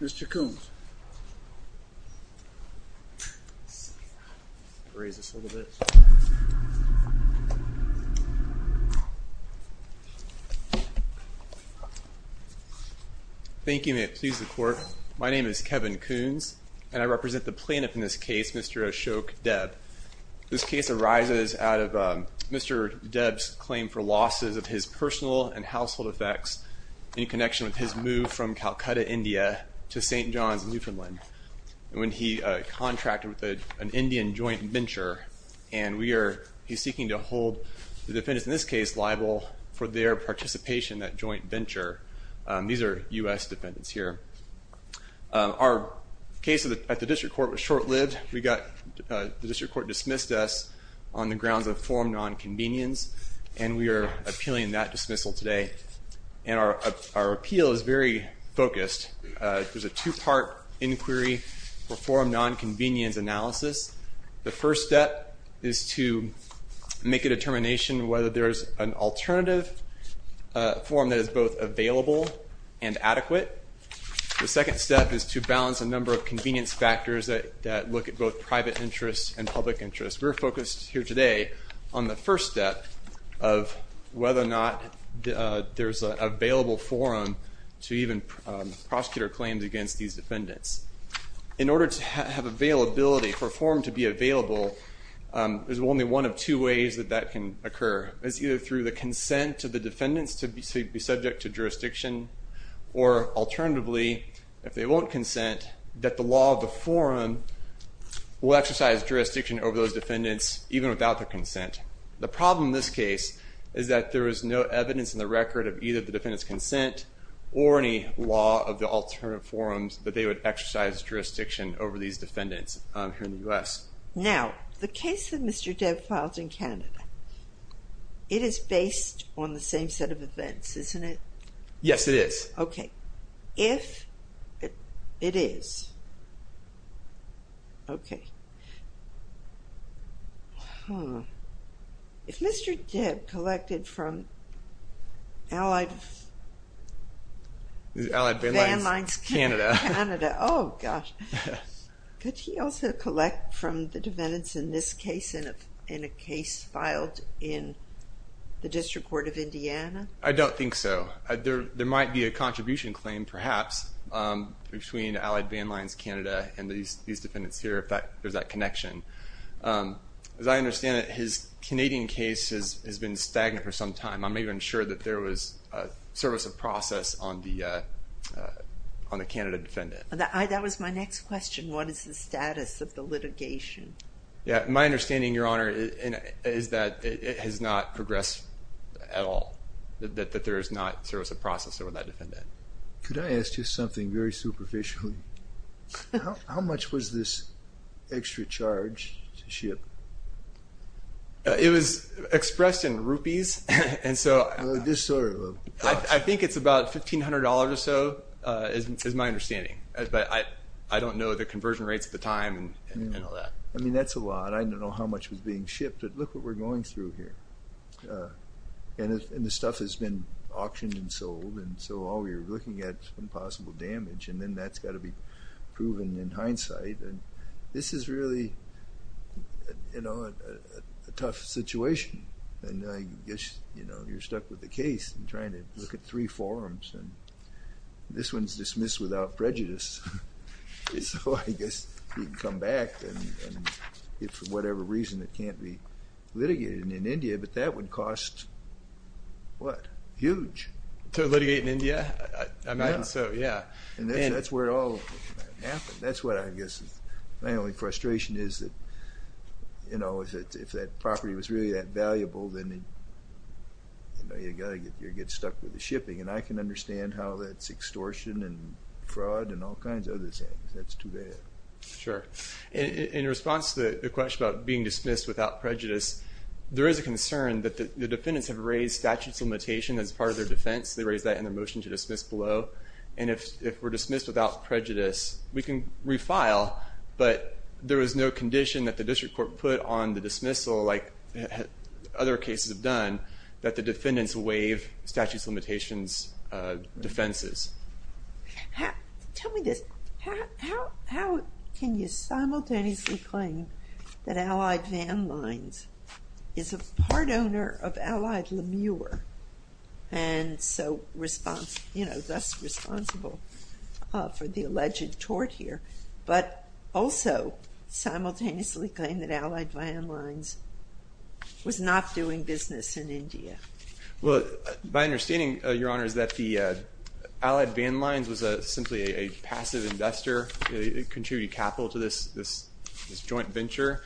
Mr. Kuhns, thank you. May it please the court. My name is Kevin Kuhns, and I represent the plaintiff in this case, Mr. Ashoke Deb. This case arises out of Mr. Deb's claim for losses of his personal and household effects in connection with his move from Calcutta, India to St. John's, Newfoundland, when he contracted with an Indian joint venture. And we are seeking to hold the defendants in this case liable for their participation in that joint venture. These are U.S. defendants here. Our case at the district court was short-lived. We got, the district court dismissed us on the grounds of forum nonconvenience, and we are appealing that dismissal today. And our appeal is very focused. There's a two-part inquiry for forum nonconvenience analysis. The first step is to make a determination whether there is an alternative forum that is both available and adequate. The second step is to balance a number of convenience factors that look at both private interests and public interests. We're focused here today on the first step of whether or not there's an available forum to even prosecute our claims against these defendants. In order to have availability, for a forum to be available, there's only one of two ways that that can occur. It's either through the consent of the defendants to be subject to jurisdiction, or alternatively, if they won't consent, that the law of the forum will exercise jurisdiction over those defendants even without their consent. The problem in this case is that there is no evidence in the record of either the defendant's consent or any law of the alternative forums that they would exercise jurisdiction over these defendants here in the U.S. Now, the case that Mr. Debb filed in Canada, it is based on the same set of events, isn't it? Yes, it is. Okay. If it is. Okay. If Mr. Debb collected from Allied Van Lines Canada, oh gosh, could he also collect from the defendants in this case, in a case filed in the District Court of Indiana? I don't think so. There might be a contribution claim, perhaps, between Allied Van Lines Canada and these defendants here if there's that connection. As I understand it, his Canadian case has been stagnant for some time. I'm not even sure that there was service of process on the Canada defendant. That was my next question. What is the status of the litigation? My understanding, Your Honor, is that it has not progressed at all, that there is not service of process over that defendant. Could I ask you something very superficially? How much was this extra charge to ship? It was expressed in rupees. I think it's about $1,500 or so is my understanding. I don't know the conversion rates at the time and all that. I mean, that's a lot. I don't know how much was being shipped, but look what we're going through here. And the stuff has been auctioned and sold, and so all we're looking at is possible damage, and then that's got to be proven in hindsight. This is really a tough situation, and I guess you're stuck with the case and trying to look at three forms, and this one's dismissed without prejudice. So I guess you can come back, and if for whatever reason it can't be litigated in India, but that would cost, what, huge. To litigate in India? I mean, so yeah. And that's where it all happened. That's what I guess is my only frustration is that, you know, if that property was really that valuable, then you got to get stuck with the shipping, and I can understand how that's extortion and fraud and all kinds of other things. That's too bad. Sure. In response to the question about being dismissed without prejudice, there is a concern that the defendants have raised statutes of limitation as part of their defense. They raised that in their motion to dismiss below, and if we're dismissed without prejudice, we can refile, but there is no condition that the district court put on the dismissal, like other cases have done, that the defendants waive statutes of limitations defenses. Tell me this. How can you simultaneously claim that Allied Van Lines is a part owner of Allied Lemure, and so, you know, thus responsible for the alleged tort here, but also simultaneously claim that Allied Van Lines was not doing business in India? Well, my understanding, Your Honor, is that the Allied Van Lines was simply a passive investor. It contributed capital to this joint venture,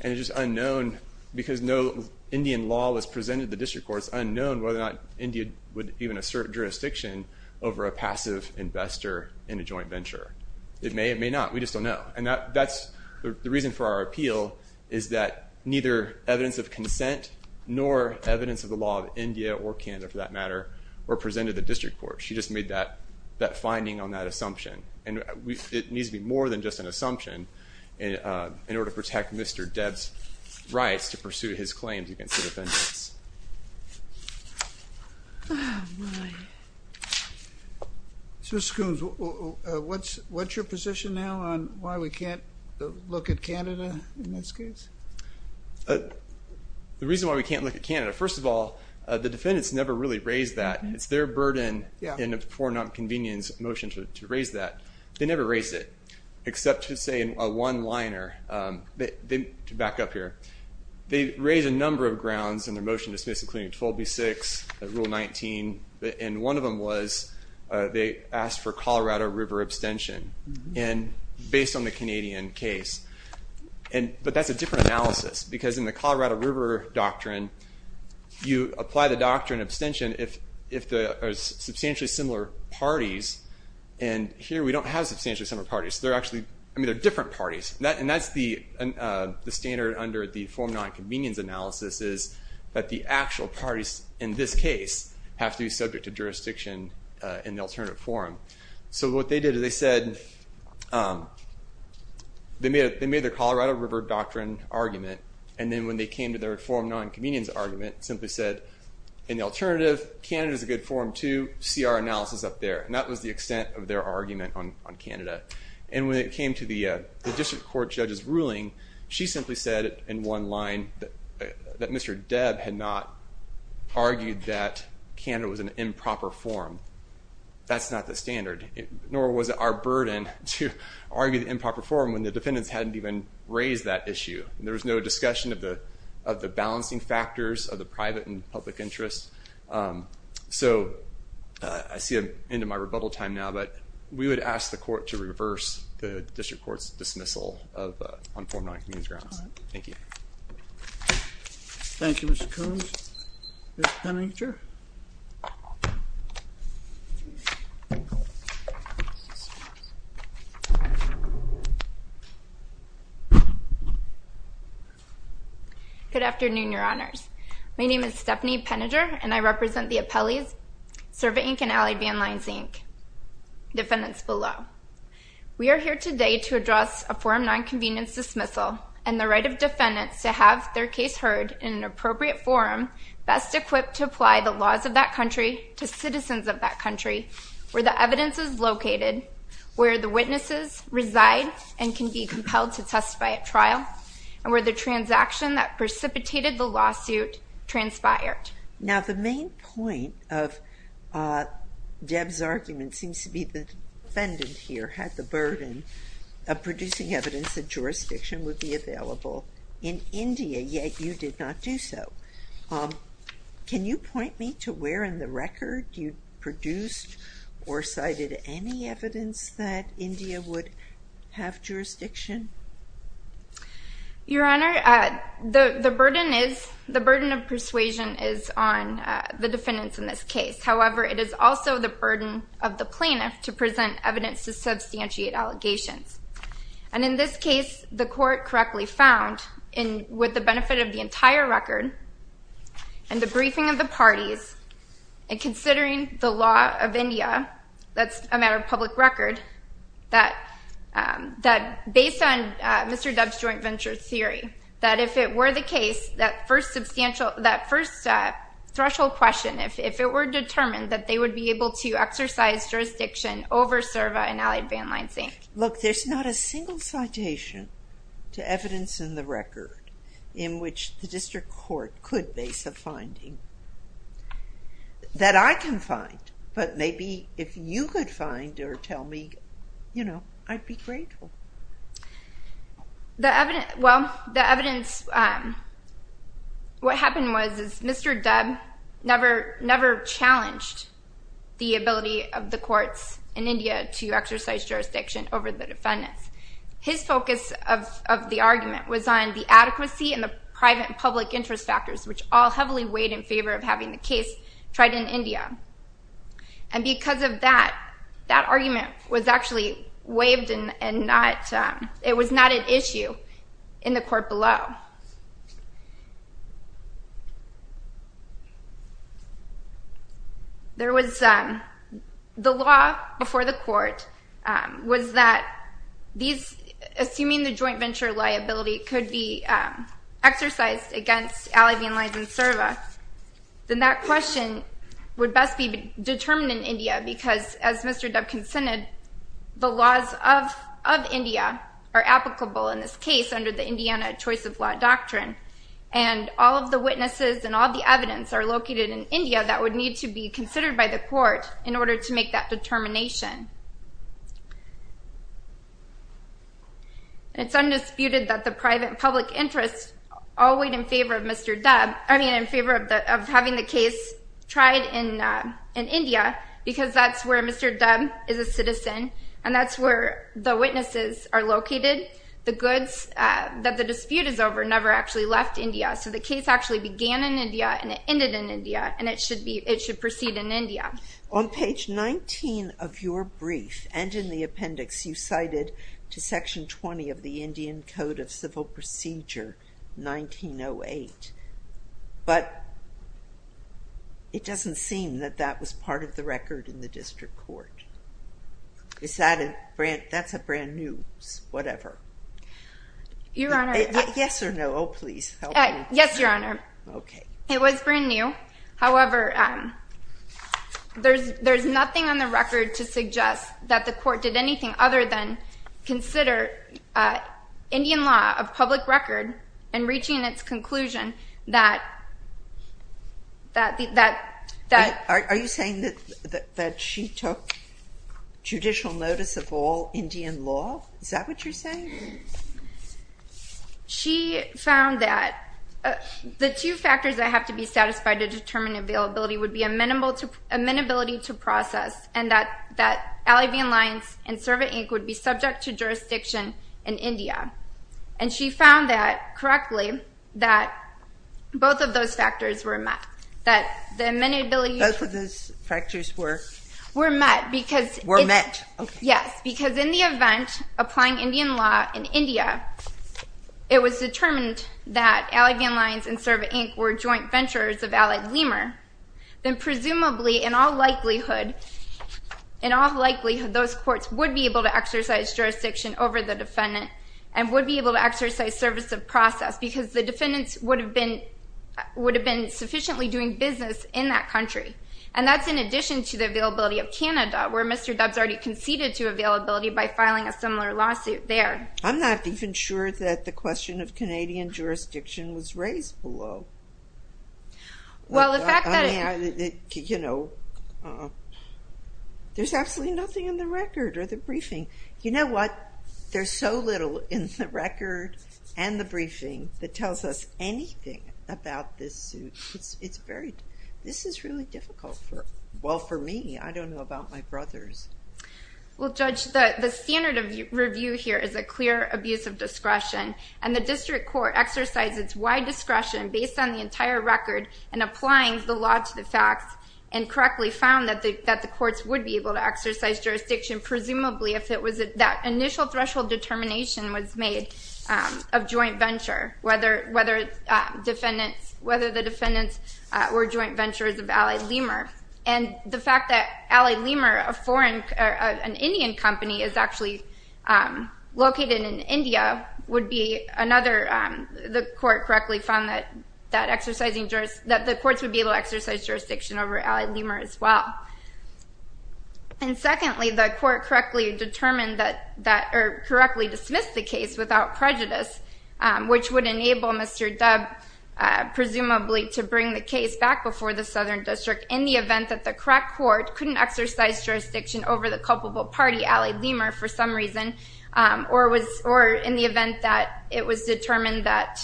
and it's just unknown, because no Indian law was presented to the district courts, unknown whether or not India would even assert jurisdiction over a passive investor in a joint venture. It may, it may not. We just don't know. The reason for our appeal is that neither evidence of consent nor evidence of the law of India or Canada, for that matter, were presented to the district court. She just made that finding on that assumption, and it needs to be more than just an assumption in order to protect Mr. Debb's rights to pursue his claims against the defendants. Oh, my. So, Mr. Coons, what's your position now on why we can't look at Canada in this case? The reason why we can't look at Canada, first of all, the defendants never really raised that. It's their burden in a for nonconvenience motion to raise that. They never raised it, except to say in a one-liner, to back up here. They raised a number of grounds in their motion to dismiss, including 12B6, Rule 19, and one of them was they asked for Colorado River abstention, based on the Canadian case. But that's a different analysis, because in the Colorado River doctrine, you apply the doctrine of abstention if there are substantially similar parties, and here we don't have substantially similar parties. They're actually, I mean, they're different parties, and that's the standard under the for nonconvenience analysis, is that the actual parties in this case have to be subject to jurisdiction in the alternative forum. So, what they did is they said, they made the Colorado River doctrine argument, and then when they came to their for nonconvenience argument, simply said, in the alternative, Canada's a good forum too, see our analysis up there. And that was the extent of their argument on Canada. And when it came to the district court judge's ruling, she simply said in one line that Mr. Debb had not argued that Canada was an improper forum. That's not the standard, nor was it our burden to argue the improper forum when the defendants hadn't even raised that issue. There was no discussion of the balancing factors of the private and public interests. So, I see I'm into my rebuttal time now, but we would ask the court to reverse the district court's dismissal of unformed nonconvenience grounds. Thank you. Thank you, Mr. Coons. Ms. Penninger. Good afternoon, Your Honors. My name is Stephanie Penninger, and I represent the appellees, Survey Inc. and Alley Van Lines Inc., defendants below. We are here today to address a forum nonconvenience dismissal and the right of defendants to have their case heard in an appropriate forum best equipped to apply the laws of that country to citizens of that country, where the evidence is located, where the witnesses reside and can be compelled to testify at trial, and where the transaction that precipitated the lawsuit transpired. Now, the main point of Debb's argument seems to be the defendant here had the burden of producing evidence that jurisdiction would be available in India, yet you did not do so. Can you point me to where in the record you produced or cited any evidence that India would have jurisdiction? Your Honor, the burden of persuasion is on the defendants in this case. However, it is also the burden of the plaintiff to present evidence to substantiate allegations. And in this case, the court correctly found, with the benefit of the entire record and the briefing of the parties, and considering the law of India, that's a matter of public record, that based on Mr. Debb's joint venture theory, that if it were the case, that first threshold question, if it were determined that they would be able to exercise jurisdiction over Serva and Alley Van Lines Inc. Look, there's not a single citation to evidence in the record in which the district court could base a finding that I can find, but maybe if you could find or tell me, you know, I'd be grateful. Well, the evidence, what happened was, is Mr. Debb never challenged the ability of the courts in India to exercise jurisdiction over the defendants. His focus of the argument was on the adequacy and the private and public interest factors, which all heavily weighed in favor of having the case tried in India. And because of that, that argument was actually waived and not, it was not an issue in the court below. There was, the law before the court was that these, assuming the joint venture liability could be exercised against Alley Van Lines and Serva, then that question would best be determined in India because, as Mr. Debb consented, the laws of India are applicable in this case under the Indiana Choice of Law Doctrine, and all of the witnesses and all the evidence are located in India that would need to be considered by the court in order to make that determination. It's undisputed that the private and public interest all weighed in favor of Mr. Debb, I mean, in favor of having the case tried in India because that's where Mr. Debb is a citizen and that's where the witnesses are located. The goods that the dispute is over never actually left India, so the case actually began in India and it ended in India and it should proceed in India. On page 19 of your brief and in the appendix, you cited to Section 20 of the Indian Code of Civil Procedure 1908, but it doesn't seem that that was part of the record in the district court. Is that a brand, that's a brand new, whatever. Your Honor. Yes or no, oh please, help me. Yes, Your Honor. Okay. It was brand new, however, there's nothing on the record to suggest that the court did anything other than consider Indian law of public record and reaching its conclusion that... Are you saying that she took judicial notice of all Indian law, is that what you're saying? She found that the two factors that have to be satisfied to determine availability would be amenability to process and that Alley v. Alliance and Survey Inc. would be subject to jurisdiction in India. And she found that, correctly, that both of those factors were met, that the amenability... Both of those factors were... Were met because... Were met, okay. Yes, because in the event, applying Indian law in India, it was determined that Alley v. Alliance and Survey Inc. were joint venturers of Allied Lemur. Then presumably, in all likelihood, in all likelihood, those courts would be able to exercise jurisdiction over the defendant and would be able to exercise service of process because the defendants would have been sufficiently doing business in that country. And that's in addition to the availability of Canada, where Mr. Dubbs already conceded to availability by filing a similar lawsuit there. I'm not even sure that the question of Canadian jurisdiction was raised below. Well, the fact that... I mean, you know, there's absolutely nothing in the record or the briefing. You know what? There's so little in the record and the briefing that tells us anything about this suit. It's very... This is really difficult for... Well, for me, I don't know about my brothers. Well, Judge, the standard of review here is a clear abuse of discretion. And the district court exercised its wide discretion based on the entire record in applying the law to the facts and correctly found that the courts would be able to exercise jurisdiction, presumably, if it was... That initial threshold determination was made of joint venture, whether the defendants were joint ventures of Allied Lemur. And the fact that Allied Lemur, a foreign... An Indian company is actually located in India would be another... The court correctly found that the courts would be able to exercise jurisdiction over Allied Lemur as well. And secondly, the court correctly determined that... Or correctly dismissed the case without prejudice, which would enable Mr. Dubb, presumably, to bring the case back before the Southern District in the event that the correct court couldn't exercise jurisdiction over the culpable party, Allied Lemur, for some reason, or in the event that it was determined that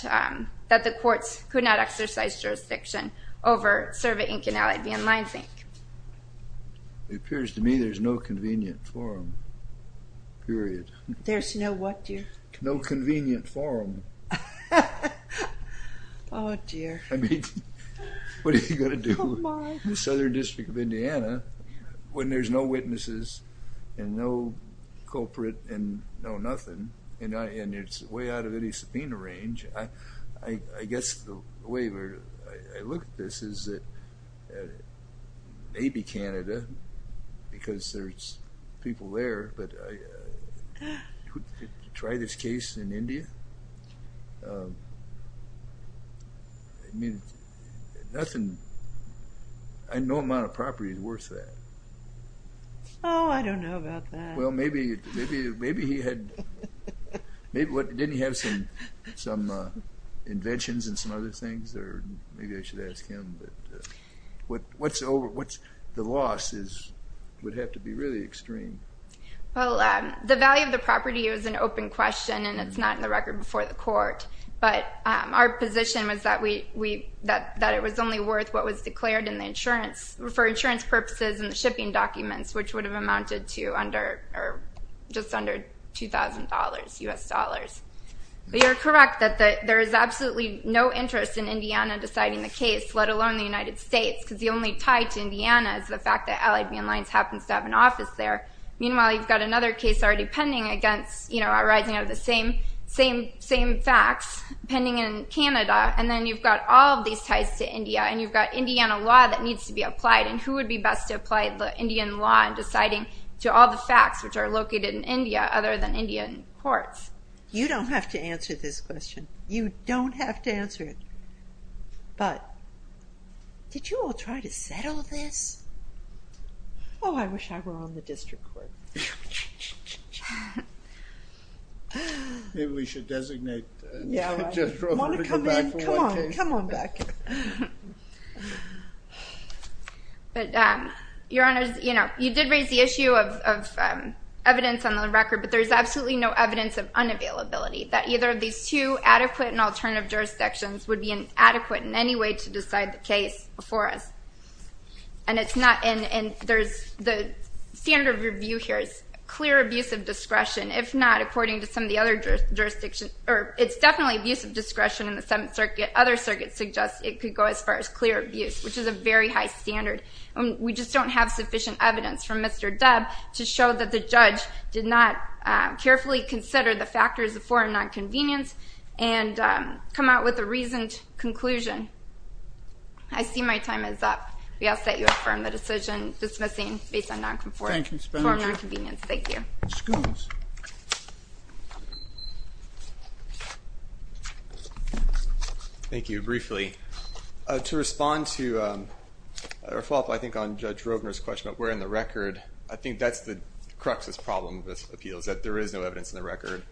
the courts could not exercise jurisdiction over Cerva, Inc. and Allied B and Lines, Inc. It appears to me there's no convenient forum, period. There's no what, dear? No convenient forum. Oh, dear. I mean, what are you going to do in the Southern District of Indiana when there's no witnesses and no culprit and no nothing, and it's way out of any subpoena range? I guess the way I look at this is that maybe Canada, because there's people there, but try this case in India? I mean, nothing... No amount of property is worth that. Oh, I don't know about that. Well, maybe he had... Didn't he have some inventions and some other things? Or maybe I should ask him. The loss would have to be really extreme. Well, the value of the property is an open question, and it's not in the record before the court. But our position was that it was only worth what was declared for insurance purposes in the shipping documents, which would have amounted to just under $2,000 U.S. dollars. But you're correct that there is absolutely no interest in Indiana deciding the case, let alone the United States, because the only tie to Indiana is the fact that Allied B and Lines happens to have an office there. Meanwhile, you've got another case already pending, arising out of the same facts, pending in Canada, and then you've got all of these ties to India, and you've got Indiana law that needs to be applied, and who would be best to apply the Indian law in deciding to all the facts which are located in India other than Indian courts? You don't have to answer this question. You don't have to answer it. But did you all try to settle this? Oh, I wish I were on the district court. Maybe we should designate Jennifer to come back for one case. Come on, come on back. But, Your Honor, you did raise the issue of evidence on the record, but there is absolutely no evidence of unavailability that either of these two adequate and alternative jurisdictions would be adequate in any way to decide the case before us. And the standard of review here is clear abuse of discretion. If not, according to some of the other jurisdictions, or it's definitely abuse of discretion in the Seventh Circuit. Other circuits suggest it could go as far as clear abuse, which is a very high standard. We just don't have sufficient evidence from Mr. Dubb to show that the judge did not carefully consider the factors of foreign nonconvenience and come out with a reasoned conclusion. I see my time is up. We ask that you affirm the decision dismissing based on foreign nonconvenience. Thank you. Thank you. Briefly, to respond to or follow up, I think, on Judge Roebner's question about where in the record, I think that's the crux of this problem with appeals, that there is no evidence in the record.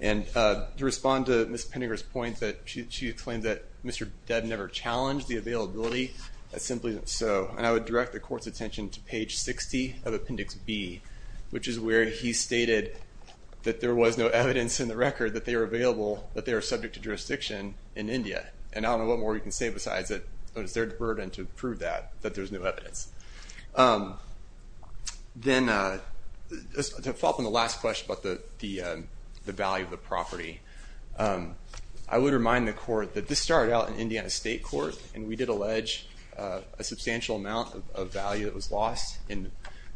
And to respond to Ms. Penninger's point that she claimed that Mr. Dubb never challenged the availability, that simply isn't so. And I would direct the court's attention to page 60 of Appendix B, which is where he stated that there was no evidence in the record that they were available, that they were subject to jurisdiction in India. And I don't know what more you can say besides that it was their burden to prove that, that there's no evidence. Then to follow up on the last question about the value of the property, I would remind the court that this started out in Indiana State Court, and we did allege a substantial amount of value that was lost in,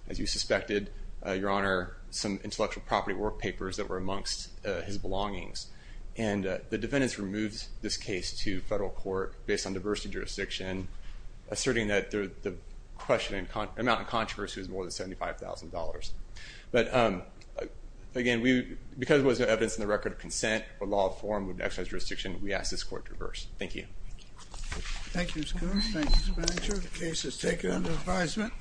as you suspected, Your Honor, some intellectual property work papers that were amongst his belongings. And the defendants removed this case to federal court based on diversity jurisdiction, and asserting that the amount of controversy was more than $75,000. But again, because there was no evidence in the record of consent, or law of form with exercise of jurisdiction, we ask this court to reverse. Thank you. Thank you, Mr. Coors. Thank you, Ms. Penninger. The case is taken under advisement.